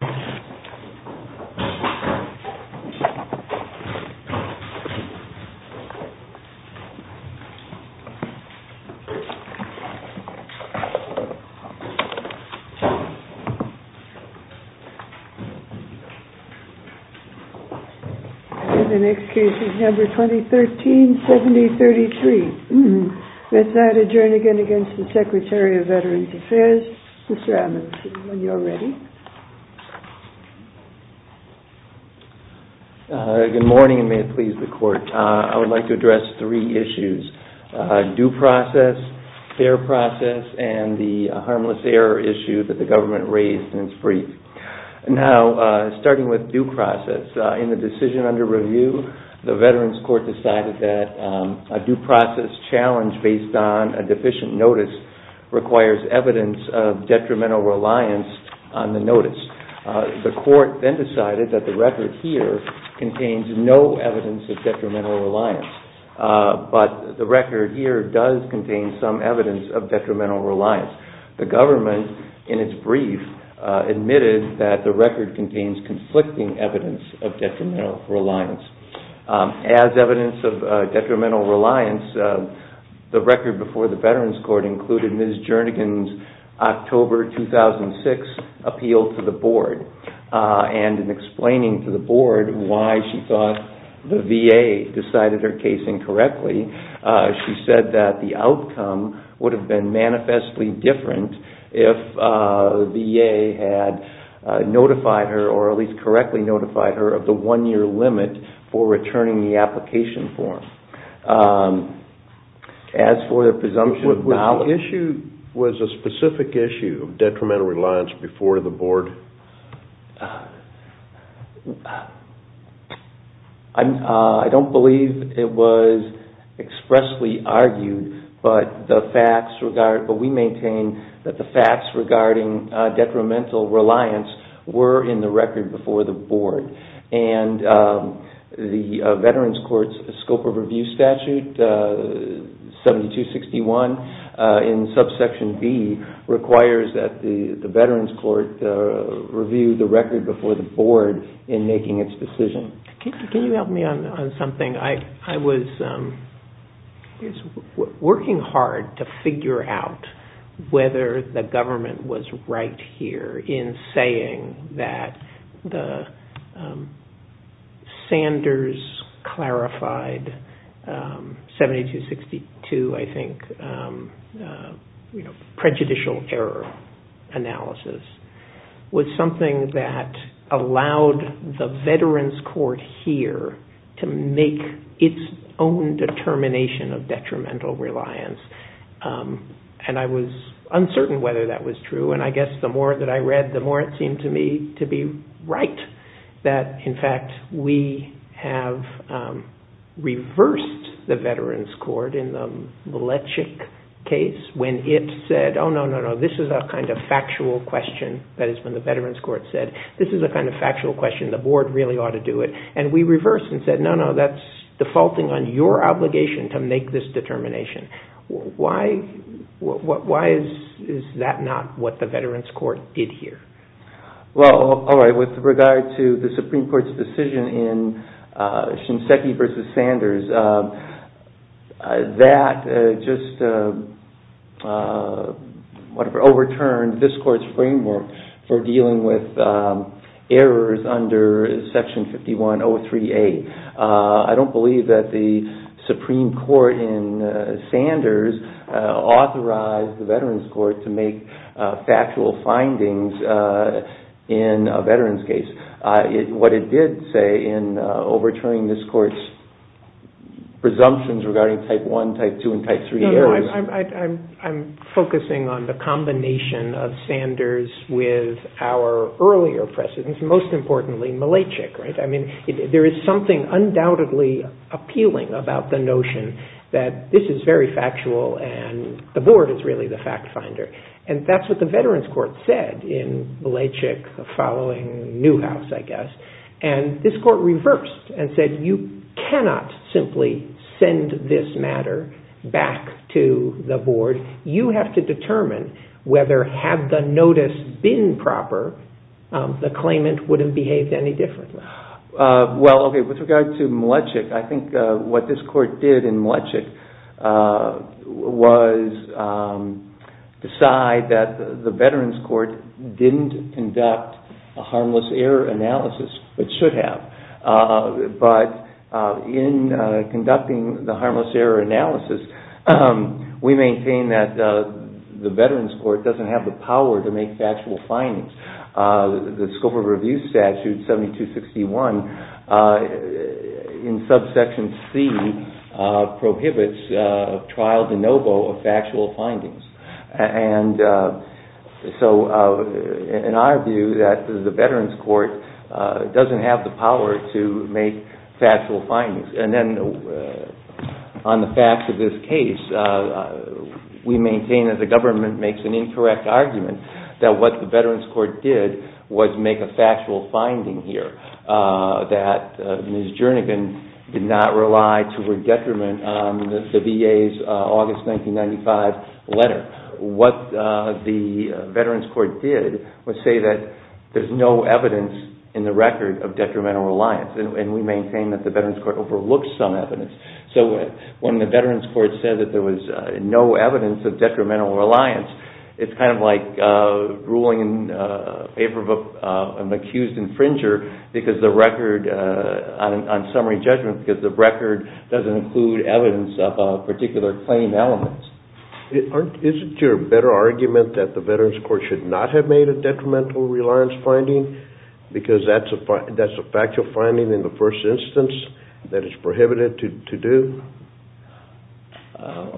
TRANSCRIPT Good morning, and may it please the Court. I would like to address three issues, due process, fair process, and the harmless error issue that the government raised in its brief. Now, starting with due process, in the decision under review, the Veterans Court decided that a due process challenge based on a deficient notice requires evidence of detrimental reliance on the notice. The Court then decided that the record here contains no evidence of detrimental reliance, but the record here does contain some evidence of detrimental reliance. The government, in its brief, admitted that the record contains conflicting evidence of detrimental reliance. As evidence of detrimental reliance, the record before the Veterans Court included Ms. Jernigan's October 2006 appeal to the Board, and in explaining to the Board why she thought the VA decided her case incorrectly, she said that the outcome would have been manifestly different if the VA had notified her, or at least correctly notified her, of the one-year limit on the notice. Was the issue, was a specific issue, detrimental reliance before the Board? I don't believe it was expressly argued, but we maintain that the facts regarding detrimental reliance were in the record before the Board, and the Veterans Court's scope of review statute, 7261, in subsection B, requires that the Veterans Court review the record before the Board. Can you help me on something? I was working hard to figure out whether the government was right here in saying that the Sanders-clarified 7262, I think, prejudicial error analysis, was incorrect. It was something that allowed the Veterans Court here to make its own determination of detrimental reliance, and I was uncertain whether that was true. I guess the more that I read, the more it seemed to me to be right that, in fact, we have reversed the Veterans Court in the Lechick case when it said, oh, no, no, no, this is a kind of factual question. That is when the Veterans Court said, this is a kind of factual question. The Board really ought to do it. We reversed and said, no, no, that's defaulting on your obligation to make this determination. Why is that not what the Veterans Court did here? With regard to the Supreme Court's decision in Shinseki v. Sanders, that just overturned this Court's framework for dealing with errors under Section 51038. I don't believe that the Supreme Court in Sanders authorized the Veterans Court to make factual findings in a Veterans case. What it did say in overturning this Court's presumptions regarding Type I, Type II, and Type III errors… There was something undoubtedly appealing about the notion that this is very factual and the Board is really the fact finder. That's what the Veterans Court said in Lechick following Newhouse, I guess. This Court reversed and said you cannot simply send this matter back to the Board. You have to determine whether, had the notice been proper, the claimant would have behaved any differently. With regard to Lechick, I think what this Court did in Lechick was decide that the Veterans Court didn't conduct a harmless error analysis, but should have. But in conducting the harmless error analysis, we maintain that the Veterans Court doesn't have the power to make factual findings. The Scope of Review Statute 7261 in subsection C prohibits trial de novo of factual findings. In our view, the Veterans Court doesn't have the power to make factual findings. On the facts of this case, we maintain that the government makes an incorrect argument that what the Veterans Court did was make a factual finding here. That Ms. Jernigan did not rely to her detriment on the VA's August 1995 letter. What the Veterans Court did was say that there's no evidence in the record of detrimental reliance, and we maintain that the Veterans Court overlooks some evidence. When the Veterans Court said that there was no evidence of detrimental reliance, it's kind of like ruling in favor of an accused infringer on summary judgment because the record doesn't include evidence of a particular claim element. Isn't your better argument that the Veterans Court should not have made a detrimental reliance finding because that's a factual finding in the first instance that it's prohibited to do?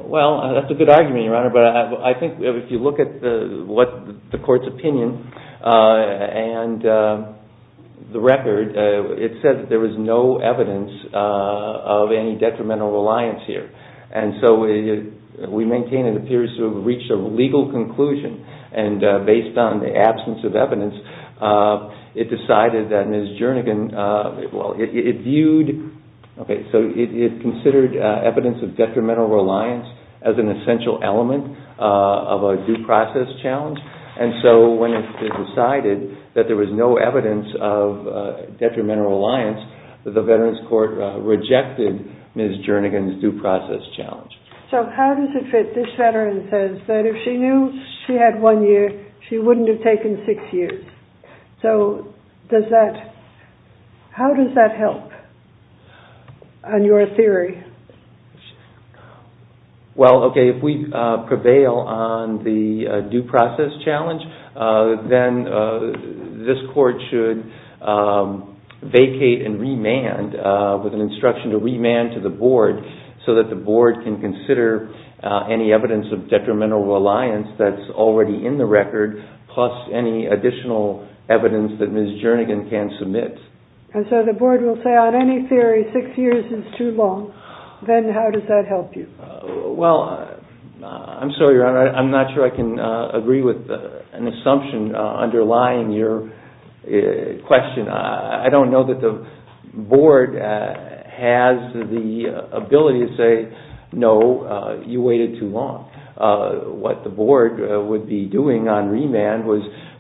Well, that's a good argument, Your Honor, but I think if you look at the court's opinion and the record, it said that there was no evidence of any detrimental reliance here. We maintain it appears to have reached a legal conclusion, and based on the absence of evidence, it considered evidence of detrimental reliance as an essential element of a due process challenge. And so when it was decided that there was no evidence of detrimental reliance, the Veterans Court rejected Ms. Jernigan's due process challenge. So how does it fit? This Veteran says that if she knew she had one year, she wouldn't have taken six years. So how does that help on your theory? Well, okay, if we prevail on the due process challenge, then this court should vacate and remand with an instruction to remand to the board so that the board can consider any evidence of detrimental reliance that's already in the record plus any additional evidence that Ms. Jernigan can submit. And so the board will say on any theory six years is too long, then how does that help you? Well, I'm sorry, Your Honor, I'm not sure I can agree with an assumption underlying your question. I don't know that the board has the ability to say, no, you waited too long. What the board would be doing on remand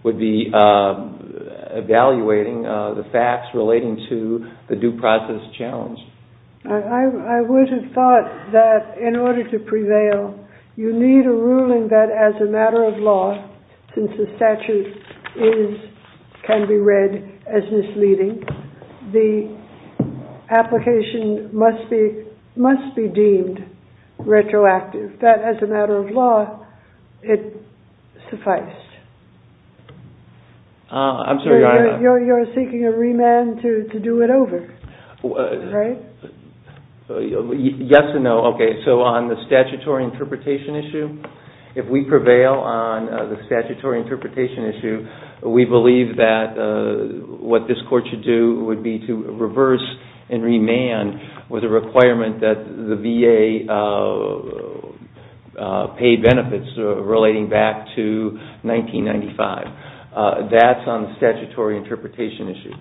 would be evaluating the facts relating to the due process challenge. I would have thought that in order to prevail, you need a ruling that as a matter of law, since the statute can be read as misleading, the application must be deemed retroactive. That as a matter of law, it sufficed. I'm sorry, Your Honor. You're seeking a remand to do it over, right? Yes and no. Okay, so on the statutory interpretation issue, if we prevail on the statutory interpretation issue, we believe that what this court should do would be to reverse and remand with a requirement that the VA pay benefits relating back to 1995. That's on the statutory interpretation issue.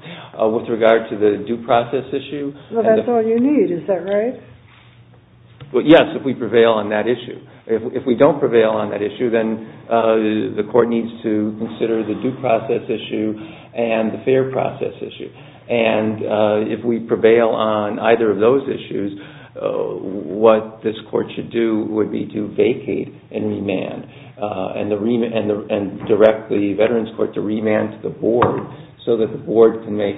With regard to the due process issue. Well, that's all you need, is that right? Yes, if we prevail on that issue. If we don't prevail on that issue, then the court needs to consider the due process issue and the fair process issue. If we prevail on either of those issues, what this court should do would be to vacate and direct the Veterans Court to remand to the board so that the board can make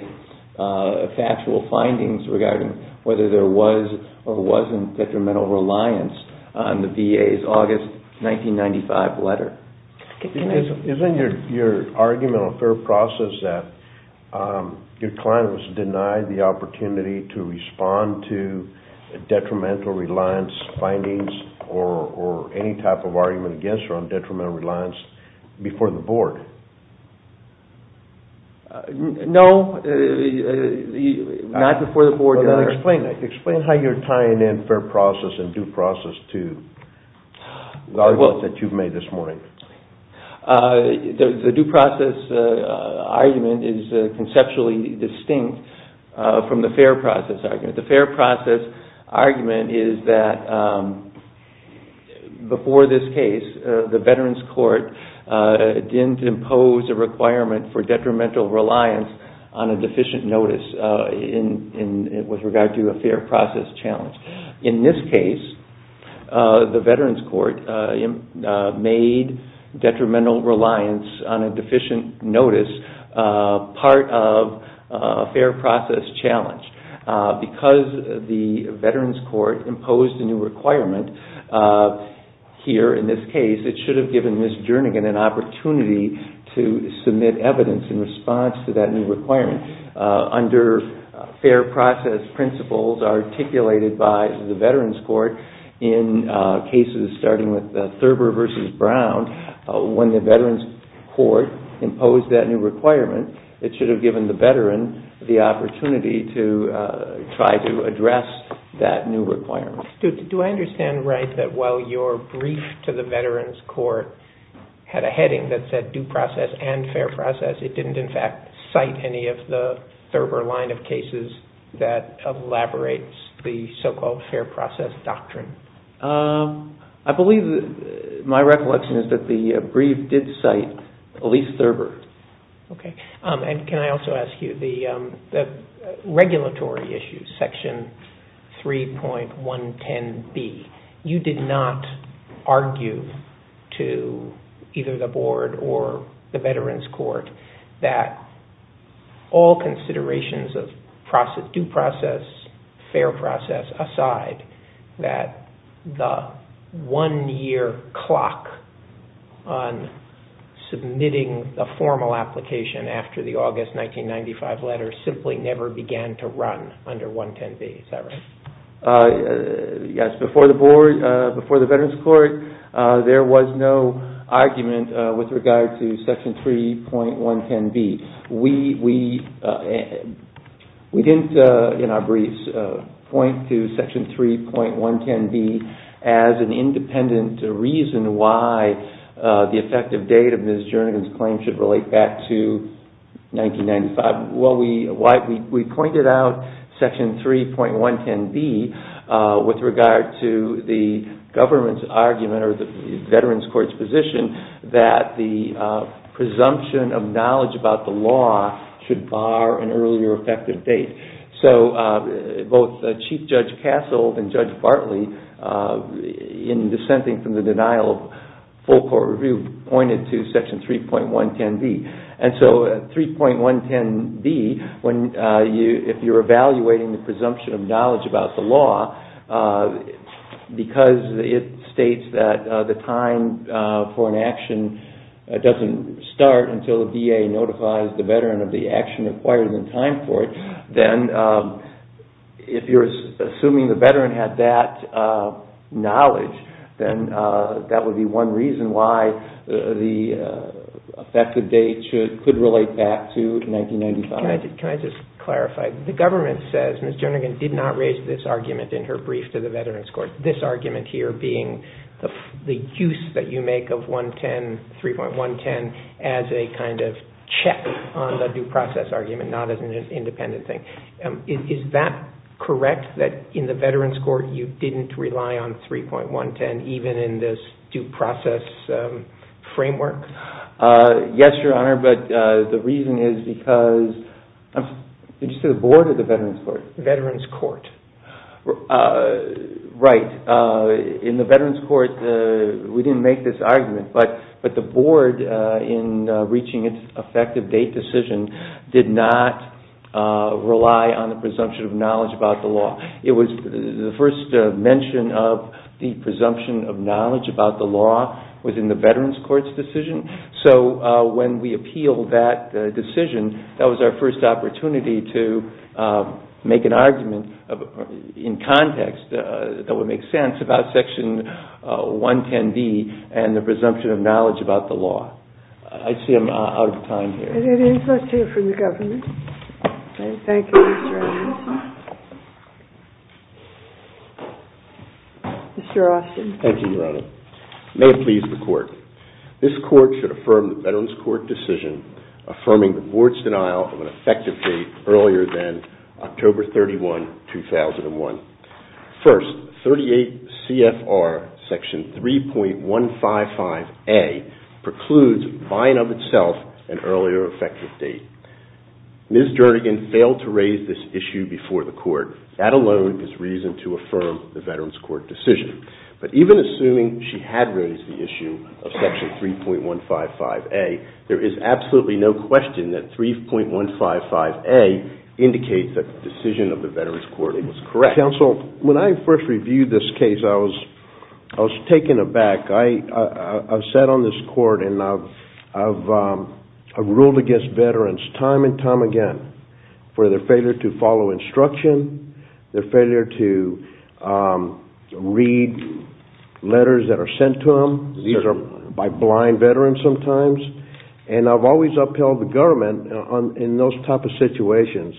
factual findings regarding whether there was or wasn't detrimental reliance on the VA's August 1995 letter. Isn't your argument on fair process that your client was denied the opportunity to respond to detrimental reliance findings or any type of argument against her on detrimental reliance before the board? No, not before the board, Your Honor. Explain how you're tying in fair process and due process to the argument that you've made this morning. The due process argument is conceptually distinct from the fair process argument. The fair process argument is that before this case, the Veterans Court didn't impose a requirement for detrimental reliance on a deficient notice with regard to the VA's August 1995 letter. In this case, the Veterans Court made detrimental reliance on a deficient notice part of a fair process challenge. Because the Veterans Court imposed a new requirement here in this case, it should have given Ms. Jernigan an opportunity to submit evidence in response to that new requirement. Under fair process principles articulated by the Veterans Court in cases starting with Thurber v. Brown, when the Veterans Court imposed that new requirement, it should have given the Veteran the opportunity to try to address that new requirement. Do I understand right that while your brief to the Veterans Court had a heading that said due process and fair process, it didn't in fact cite any of the Thurber line of cases that elaborates the so-called fair process doctrine? I believe my recollection is that the brief did cite Elyse Thurber. Okay. And can I also ask you, the regulatory issues, Section 3.110B, you did not argue to either the board or the Veterans Court that all considerations of due process, fair process aside, that the one-year clock on submitting the formal application after the August 1995 letter simply never began to run under 110B. Is that right? Yes, Section 3.110B. We didn't, in our briefs, point to Section 3.110B as an independent reason why the effective date of Ms. Jernigan's claim should relate back to 1995. Well, we pointed out Section 3.110B with regard to the government's argument or the Veterans Court's position that the presumption of knowledge about the law should bar an earlier effective date. So both Chief Judge Castle and Judge Bartley, in dissenting from the denial of full court review, pointed to Section 3.110B. And so 3.110B, if you're evaluating the presumption of knowledge about the law, because it states that the time for an action doesn't start until the VA notifies the Veteran of the action required in time for it, then if you're assuming the Veteran had that knowledge, then that would be one reason why the effective date could relate back to 1995. Can I just clarify? The government says Ms. Jernigan did not raise this argument in her brief to the Veterans Court, this argument here being the use that you make of 3.110B as a kind of check on the due process argument, not as an independent thing. Is that correct, that in the Veterans Court you didn't rely on 3.110B even in this due process framework? Yes, Your Honor, but the reason is because, did you say the Board or the Veterans Court? Veterans Court. Right. In the Veterans Court we didn't make this argument, but the Board in reaching its effective date decision did not rely on the presumption of knowledge about the law. It was the first mention of the presumption of knowledge about the law within the Veterans Court's decision, so when we appealed that decision, that was our first opportunity to make an argument in context that would make sense about Section 110B and the presumption of knowledge about the law. I see I'm out of time here. Let's hear from the government. Thank you, Mr. Austin. Thank you, Your Honor. May it please the Court. This Court should affirm the Veterans Court decision affirming the Board's denial of an effective date earlier than October 31, 2001. First, 38 CFR Section 3.155A precludes buying of itself an earlier effective date. Ms. Jernigan failed to raise this issue before the Court. That alone is reason to affirm the Veterans Court decision, but even assuming she had raised the issue of Section 3.155A, there is absolutely no question that 3.155A indicates that the decision of the Veterans Court was correct. Counsel, when I first reviewed this case, I was taken aback. I've sat on this Court and I've ruled against Veterans time and time again for their failure to follow instruction, their failure to read letters that are sent to them. These are by blind Veterans sometimes, and I've always upheld the government in those type of situations,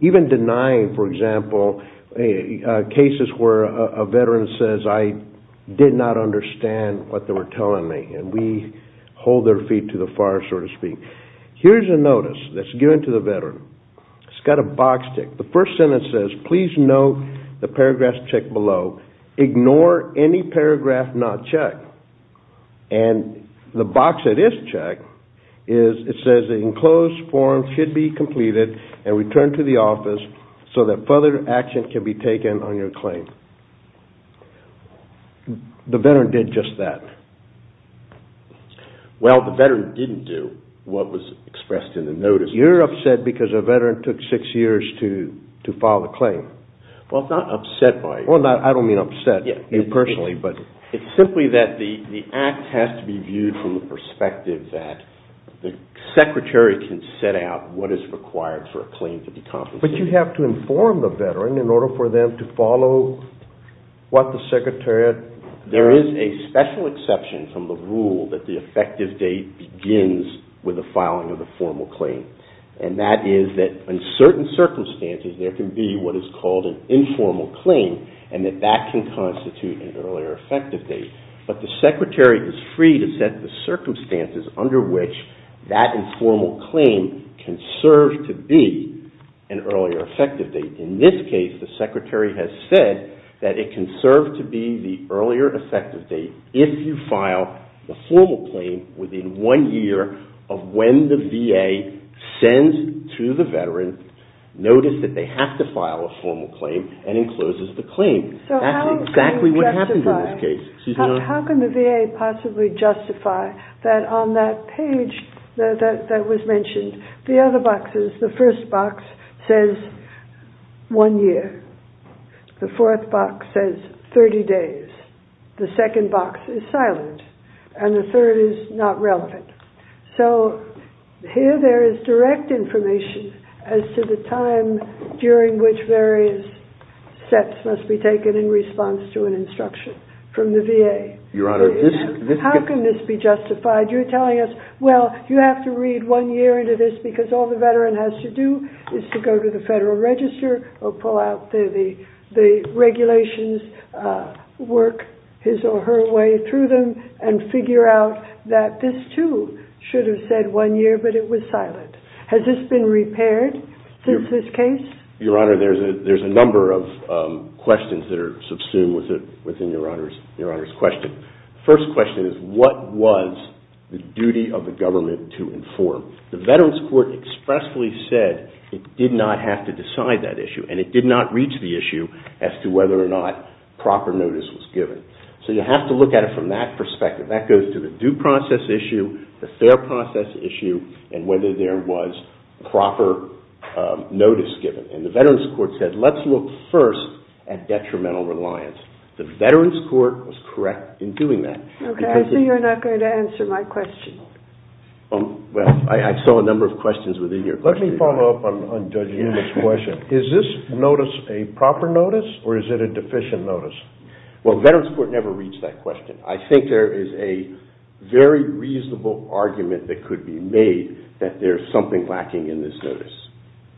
even denying, for example, cases where a Veteran says, I did not understand what they were telling me, and we hold their feet to the fire, so to speak. Here's a notice that's given to the Veteran. It's got a box tick. The first sentence says, Please note the paragraphs checked below. Ignore any paragraph not checked. And the box that is checked, it says, Enclosed form should be completed and returned to the office so that further action can be taken on your claim. The Veteran did just that. Well, the Veteran didn't do what was expressed in the notice. You're upset because a Veteran took six years to file a claim. Well, I'm not upset by it. But you have to inform the Veteran in order for them to follow what the Secretary... There is a special exception from the rule that the effective date begins with the filing of the formal claim. And that is that in certain circumstances, there can be what is called an informal claim, and that that can constitute an earlier effective date. But the Secretary is free to set the circumstances under which that informal claim can serve to be an earlier effective date. In this case, the Secretary has said that it can serve to be the earlier effective date if you file the formal claim within one year of when the VA sends to the Veteran notice that they have to file a formal claim and encloses the claim. That's exactly what happened in this case. How can the VA possibly justify that on that page that was mentioned, the other boxes, the first box says one year. The fourth box says 30 days. The second box is silent, and the third is not relevant. So here there is direct information as to the time during which various steps must be taken in response to an instruction from the VA. How can this be justified? You're telling us, well, you have to read one year into this because all the Veteran has to do is to go to the Federal Register or pull out the regulations, work his or her way through them, and figure out that this, too, should have said one year, but it was silent. Has this been repaired since this case? Your Honor, there's a number of questions that are subsumed within Your Honor's question. The first question is what was the duty of the government to inform? The Veterans Court expressly said it did not have to decide that issue, and it did not reach the issue as to whether or not proper notice was given. So you have to look at it from that perspective. That goes to the due process issue, the fair process issue, and whether there was proper notice given. And the Veterans Court said let's look first at detrimental reliance. The Veterans Court was correct in doing that. Okay, I see you're not going to answer my question. Well, I saw a number of questions within your question. Let me follow up on Judge Newman's question. Is this notice a proper notice or is it a deficient notice? Well, Veterans Court never reached that question. I think there is a very reasonable argument that could be made that there's something lacking in this notice.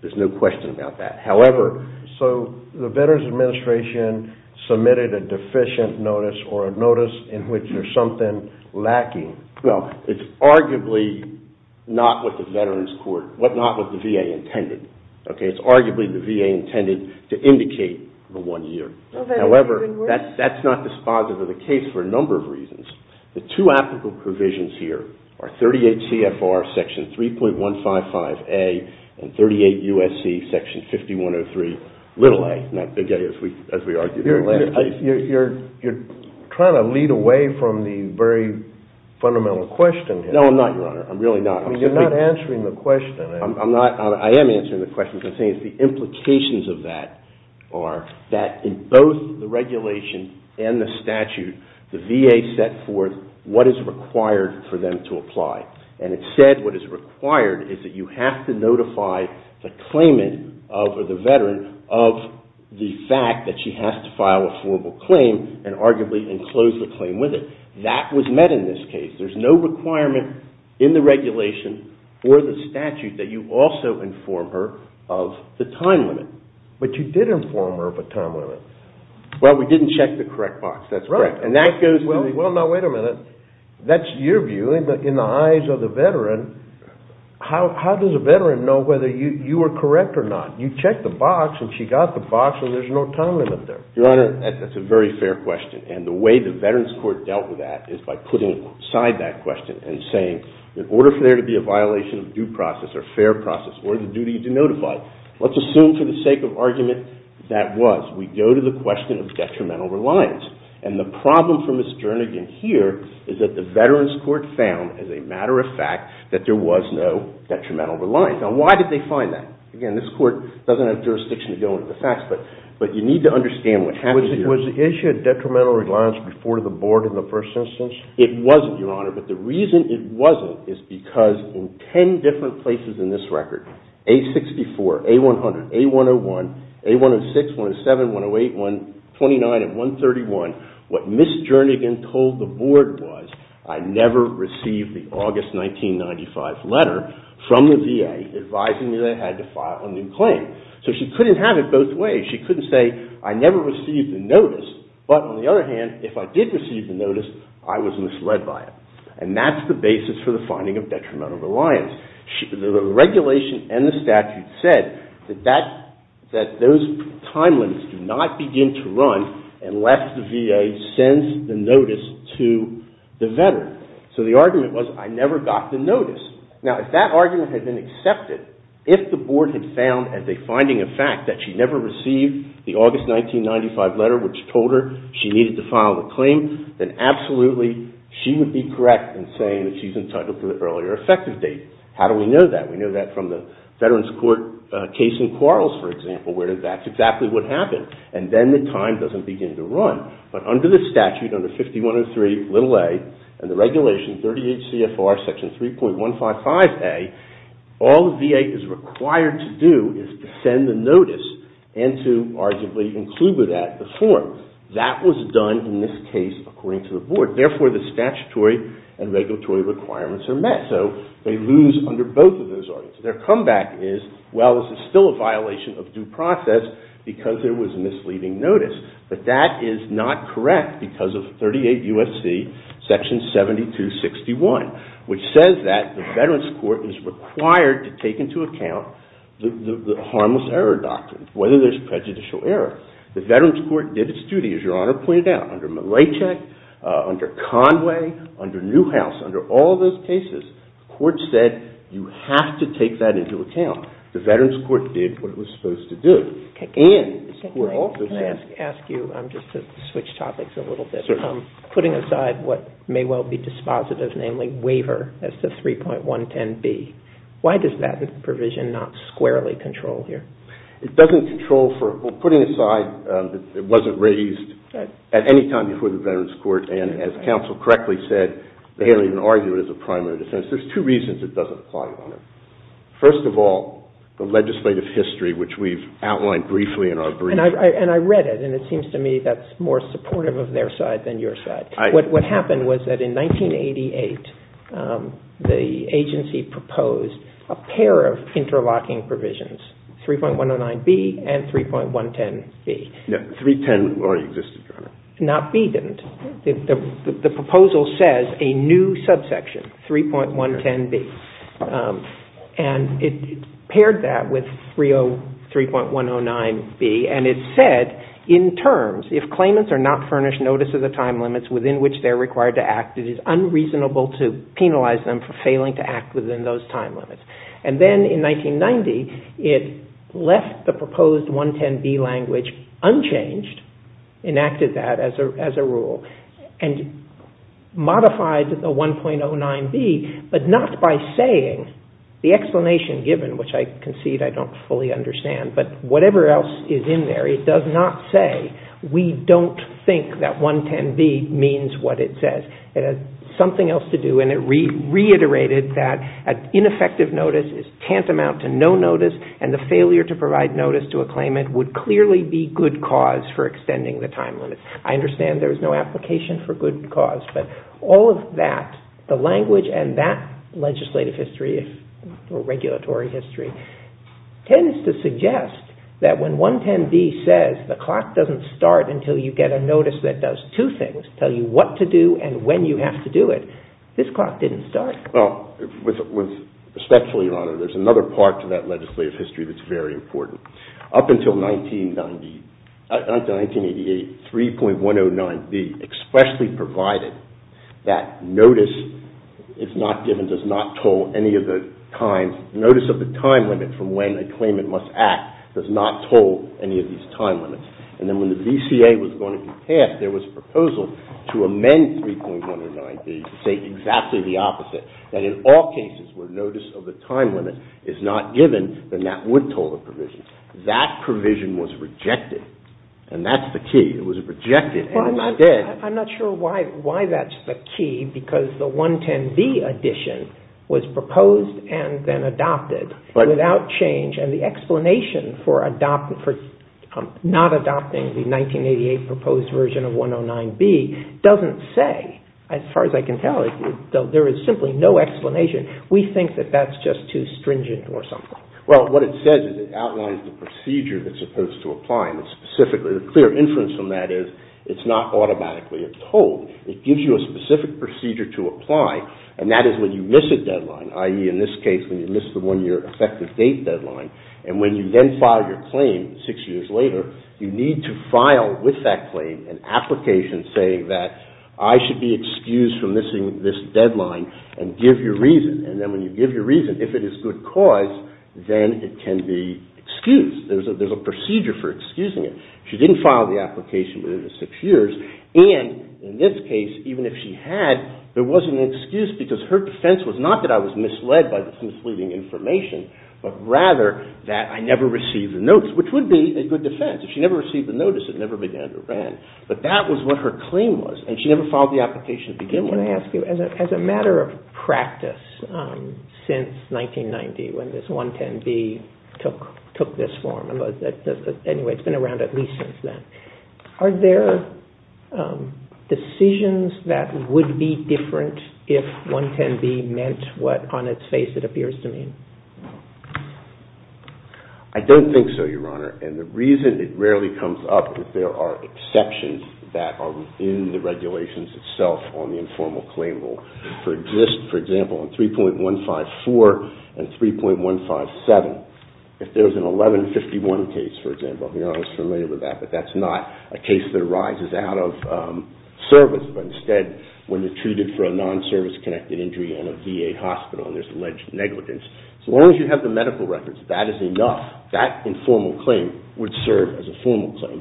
There's no question about that. However, so the Veterans Administration submitted a deficient notice or a notice in which there's something lacking. Well, it's arguably not what the VA intended. It's arguably the VA intended to indicate the one year. However, that's not dispositive of the case for a number of reasons. The two applicable provisions here are 38 CFR Section 3.155A and 38 USC Section 5103a, as we argued in the last case. You're trying to lead away from the very fundamental question here. No, I'm not, Your Honor. I'm really not. I mean, you're not answering the question. I am answering the question because the implications of that are that in both the regulation and the statute, the VA set forth what is required for them to apply. And it said what is required is that you have to notify the claimant or the Veteran of the fact that she has to file a formal claim and arguably enclose the claim with it. That was met in this case. There's no requirement in the regulation or the statute that you also inform her of the time limit. But you did inform her of a time limit. Well, we didn't check the correct box. That's correct. Well, now, wait a minute. That's your view. In the eyes of the Veteran, how does a Veteran know whether you were correct or not? You checked the box, and she got the box, and there's no time limit there. Your Honor, that's a very fair question, and the way the Veterans Court dealt with that is by putting aside that question and saying in order for there to be a violation of due process or fair process or the duty to notify, let's assume for the sake of argument that was. We go to the question of detrimental reliance. And the problem for Ms. Jernigan here is that the Veterans Court found as a matter of fact that there was no detrimental reliance. Now, why did they find that? Again, this Court doesn't have jurisdiction to go into the facts, but you need to understand what happened here. Was the issue of detrimental reliance before the Board in the first instance? It wasn't, Your Honor, but the reason it wasn't is because in ten different places in this record, A-64, A-100, A-101, A-106, 107, 108, 129, and 131, what Ms. Jernigan told the Board was I never received the August 1995 letter from the VA advising me that I had to file a new claim. So she couldn't have it both ways. She couldn't say I never received the notice, but on the other hand, if I did receive the notice, I was misled by it. And that's the basis for the finding of detrimental reliance. The regulation and the statute said that those time limits do not begin to run unless the VA sends the notice to the Veteran. So the argument was I never got the notice. Now, if that argument had been accepted, if the Board had found as a finding of fact that she never received the August 1995 letter which told her she needed to file the claim, then absolutely she would be correct in saying that she's entitled to the earlier effective date. How do we know that? We know that from the Veterans Court case in Quarles, for example, where that's exactly what happened. And then the time doesn't begin to run. But under the statute, under 5103a and the regulation 38 CFR section 3.155a, all the VA is required to do is to send the notice and to arguably include with that the form. That was done in this case according to the Board. Therefore, the statutory and regulatory requirements are met. So they lose under both of those arguments. Their comeback is, well, this is still a violation of due process because there was misleading notice. But that is not correct because of 38 U.S.C. section 7261, which says that the Veterans Court is required to take into account the harmless error doctrine, whether there's prejudicial error. The Veterans Court did its duty, as Your Honor pointed out, under Malaychik, under Conway, under Newhouse, under all those cases, the Court said you have to take that into account. The Veterans Court did what it was supposed to do. And this Court also said... Can I ask you just to switch topics a little bit? Putting aside what may well be dispositive, namely waiver, that's the 3.110b, why does that provision not squarely control here? It doesn't control for, well, putting aside that it wasn't raised at any time before the Veterans Court, and as counsel correctly said, they don't even argue it as a primary defense. There's two reasons it doesn't apply, Your Honor. First of all, the legislative history, which we've outlined briefly in our brief. And I read it, and it seems to me that's more supportive of their side than your side. What happened was that in 1988, the agency proposed a pair of interlocking provisions, 3.109b and 3.110b. 310 already existed, Your Honor. Not b didn't. The proposal says a new subsection, 3.110b. And it paired that with 303.109b. And it said, in terms, if claimants are not furnished notice of the time limits within which they're required to act, it is unreasonable to penalize them for failing to act within those time limits. And then in 1990, it left the proposed 110b language unchanged, enacted that as a rule, and modified the 3.110b. And I don't fully understand, but whatever else is in there, it does not say, we don't think that 110b means what it says. It has something else to do, and it reiterated that ineffective notice is tantamount to no notice, and the failure to provide notice to a claimant would clearly be good cause for extending the time limit. I understand there is no application for good cause, but all of that, the language and that legislative history, or regulatory history, tends to suggest that when 110b says the clock doesn't start until you get a notice that does two things, tell you what to do and when you have to do it, this clock didn't start. Well, respectfully, Your Honor, there's another part to that legislative history that's very important. Up until 1980, 3.109b expressly provided that notice is not given, does not toll any of the time, notice of the time limit from when a claimant must act does not toll any of these time limits. And then when the VCA was going to be passed, there was a proposal to amend 3.109b to say exactly the opposite, that in all cases where notice of the time limit is not given, then that would toll the provision. That provision was rejected, and that's the key. It was rejected, and it's not dead. I'm not sure why that's the key, because the 110b addition was proposed and then adopted without change, and the explanation for not adopting the 1988 proposed version of 109b doesn't say, as far as I can tell, there is simply no explanation. Well, what it says is it outlines the procedure that's supposed to apply, and specifically the clear inference from that is it's not automatically a toll. It gives you a specific procedure to apply, and that is when you miss a deadline, i.e., in this case, when you miss the one-year effective date deadline, and when you then file your claim six years later, you need to file with that claim an application saying that I should be excused, and then when you give your reason, if it is good cause, then it can be excused. There's a procedure for excusing it. She didn't file the application within the six years, and in this case, even if she had, there wasn't an excuse because her defense was not that I was misled by the misleading information, but rather that I never received the notice, which would be a good defense. If she never received the notice, it never began to run. But that was what her claim was, and she never filed the application at the beginning. I want to ask you, as a matter of practice, since 1990, when this 110B took this form, anyway, it's been around at least since then, are there decisions that would be different if 110B meant what, on its face, it appears to mean? I don't think so, Your Honor, and the reason it rarely comes up is there are exceptions that are within the regulations itself on the informal claim rule. For example, in 3.154 and 3.157, if there's an 1151 case, for example, Your Honor is familiar with that, but that's not a case that arises out of service, but instead when you're treated for a service-connected injury, as long as you have the medical records, that is enough. That informal claim would serve as a formal claim.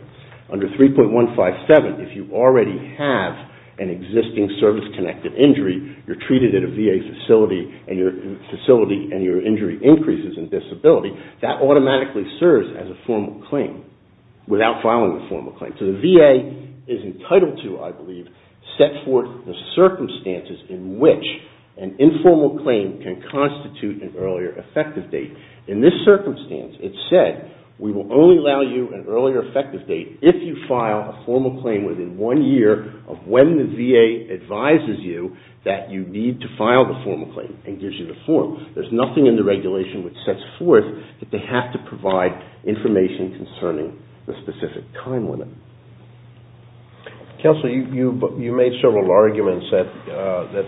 Under 3.157, if you already have an existing service-connected injury, you're treated at a VA facility, and your facility and your injury increases in disability, that automatically serves as a formal claim without filing a formal claim. So the VA is entitled to, I believe, set forth the circumstances in which an informal claim can constitute an earlier effective date. In this circumstance, it's said, we will only allow you an earlier effective date if you file a formal claim within one year of when the VA advises you that you need to file the formal claim and gives you the form. There's nothing in the regulation which sets forth that they have to provide information concerning the specific time limit. You made several arguments that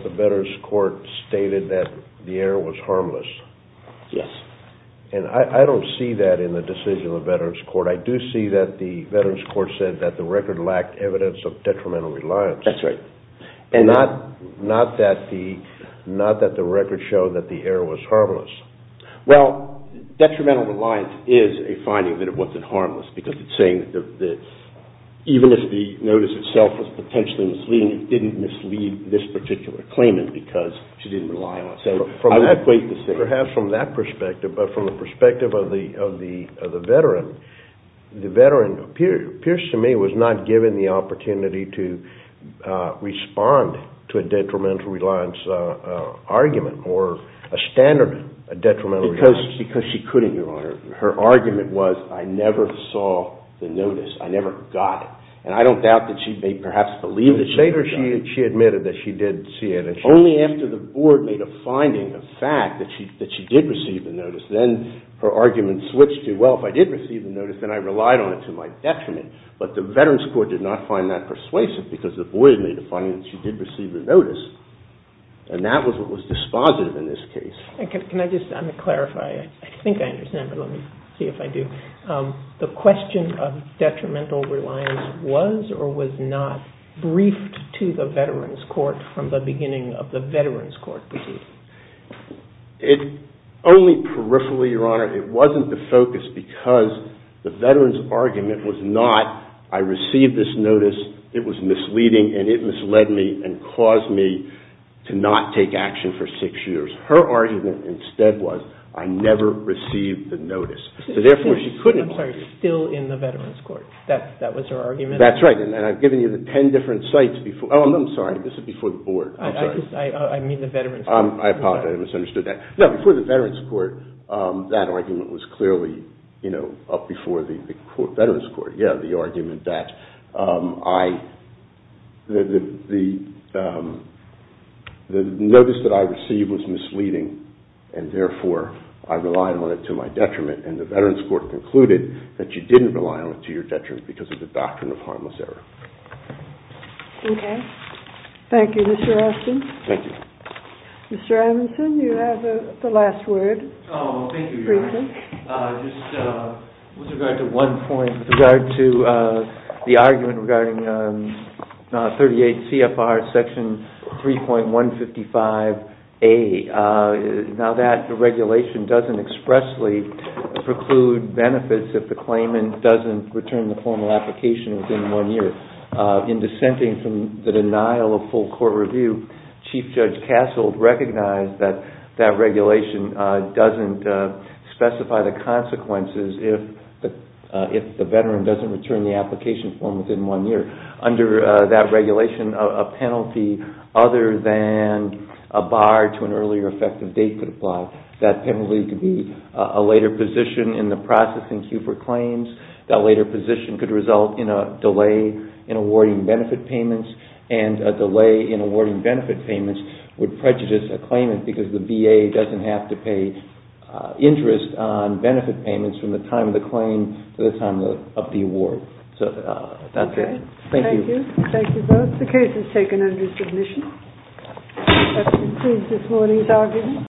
the Veterans Court stated that the error was harmless. Yes. And I don't see that in the decision of the Veterans Court. I do see that the Veterans Court said that the record lacked evidence of detrimental reliance. That's right. Not that the record showed that the error was harmless. Well, detrimental reliance is a finding that it wasn't harmless because it's saying that even if the notice itself was potentially misleading, it didn't mislead this particular claimant because she didn't rely on it. Perhaps from that perspective, but from the perspective of the Veteran, the Veteran appears to me was not given the opportunity to respond to a detrimental reliance argument or a standard detrimental reliance. Because she couldn't, Your Honor. Her argument was, I never saw the notice. I never got it. And I don't doubt that she may perhaps believe that she got it. She admitted that she did see it. Only after the board made a finding, a fact, that she did receive the notice, then her argument switched to, well, if I did receive the notice, then I relied on it to my detriment. But the Veterans Court did not find that persuasive because the board made a finding that she did receive the notice. And that was what was dispositive in this case. Can I just clarify? I think I understand, but let me see if I do. The question of detrimental reliance was or was not briefed to the Veterans Court from the beginning of the Veterans Court proceeding? Only peripherally, Your Honor, it wasn't the focus because the Veterans argument was not, I received this notice, it was misleading, and it misled me and caused me to not take action for six years. Her argument instead was, I never received the notice. I'm sorry, still in the Veterans Court. That was her argument? That's right. And I've given you the ten different sites before, oh, I'm sorry, this is before the board. I apologize, I misunderstood that. No, before the Veterans Court, that argument was clearly up before the Veterans Court. Yeah, the argument that I, the notice that I received was misleading, and therefore, I relied on it to my detriment. And the Veterans Court concluded that you didn't rely on it to your detriment because of the doctrine of harmless error. Okay. Thank you, Mr. Austin. Thank you. Mr. Amundson, you have the last word. Oh, thank you, Your Honor. With regard to one point, with regard to the argument regarding 38 CFR section 3.155A, now that regulation doesn't expressly preclude benefits if the claimant doesn't return the formal application within one year. In dissenting from the denial of full court review, Chief Judge Castle recognized that that regulation doesn't specify the consequences if the veteran doesn't return the application form within one year. Under that regulation, a penalty other than a bar to an earlier effective date could apply. That penalty could be a later position in the processing queue for claims. That later position could result in a delay in awarding benefit payments, and a delay in awarding benefit payments would prejudice a claimant because the VA doesn't have to pay interest on benefit award. So that's it. Thank you. Thank you both. The case is taken under submission. That concludes this morning's argument.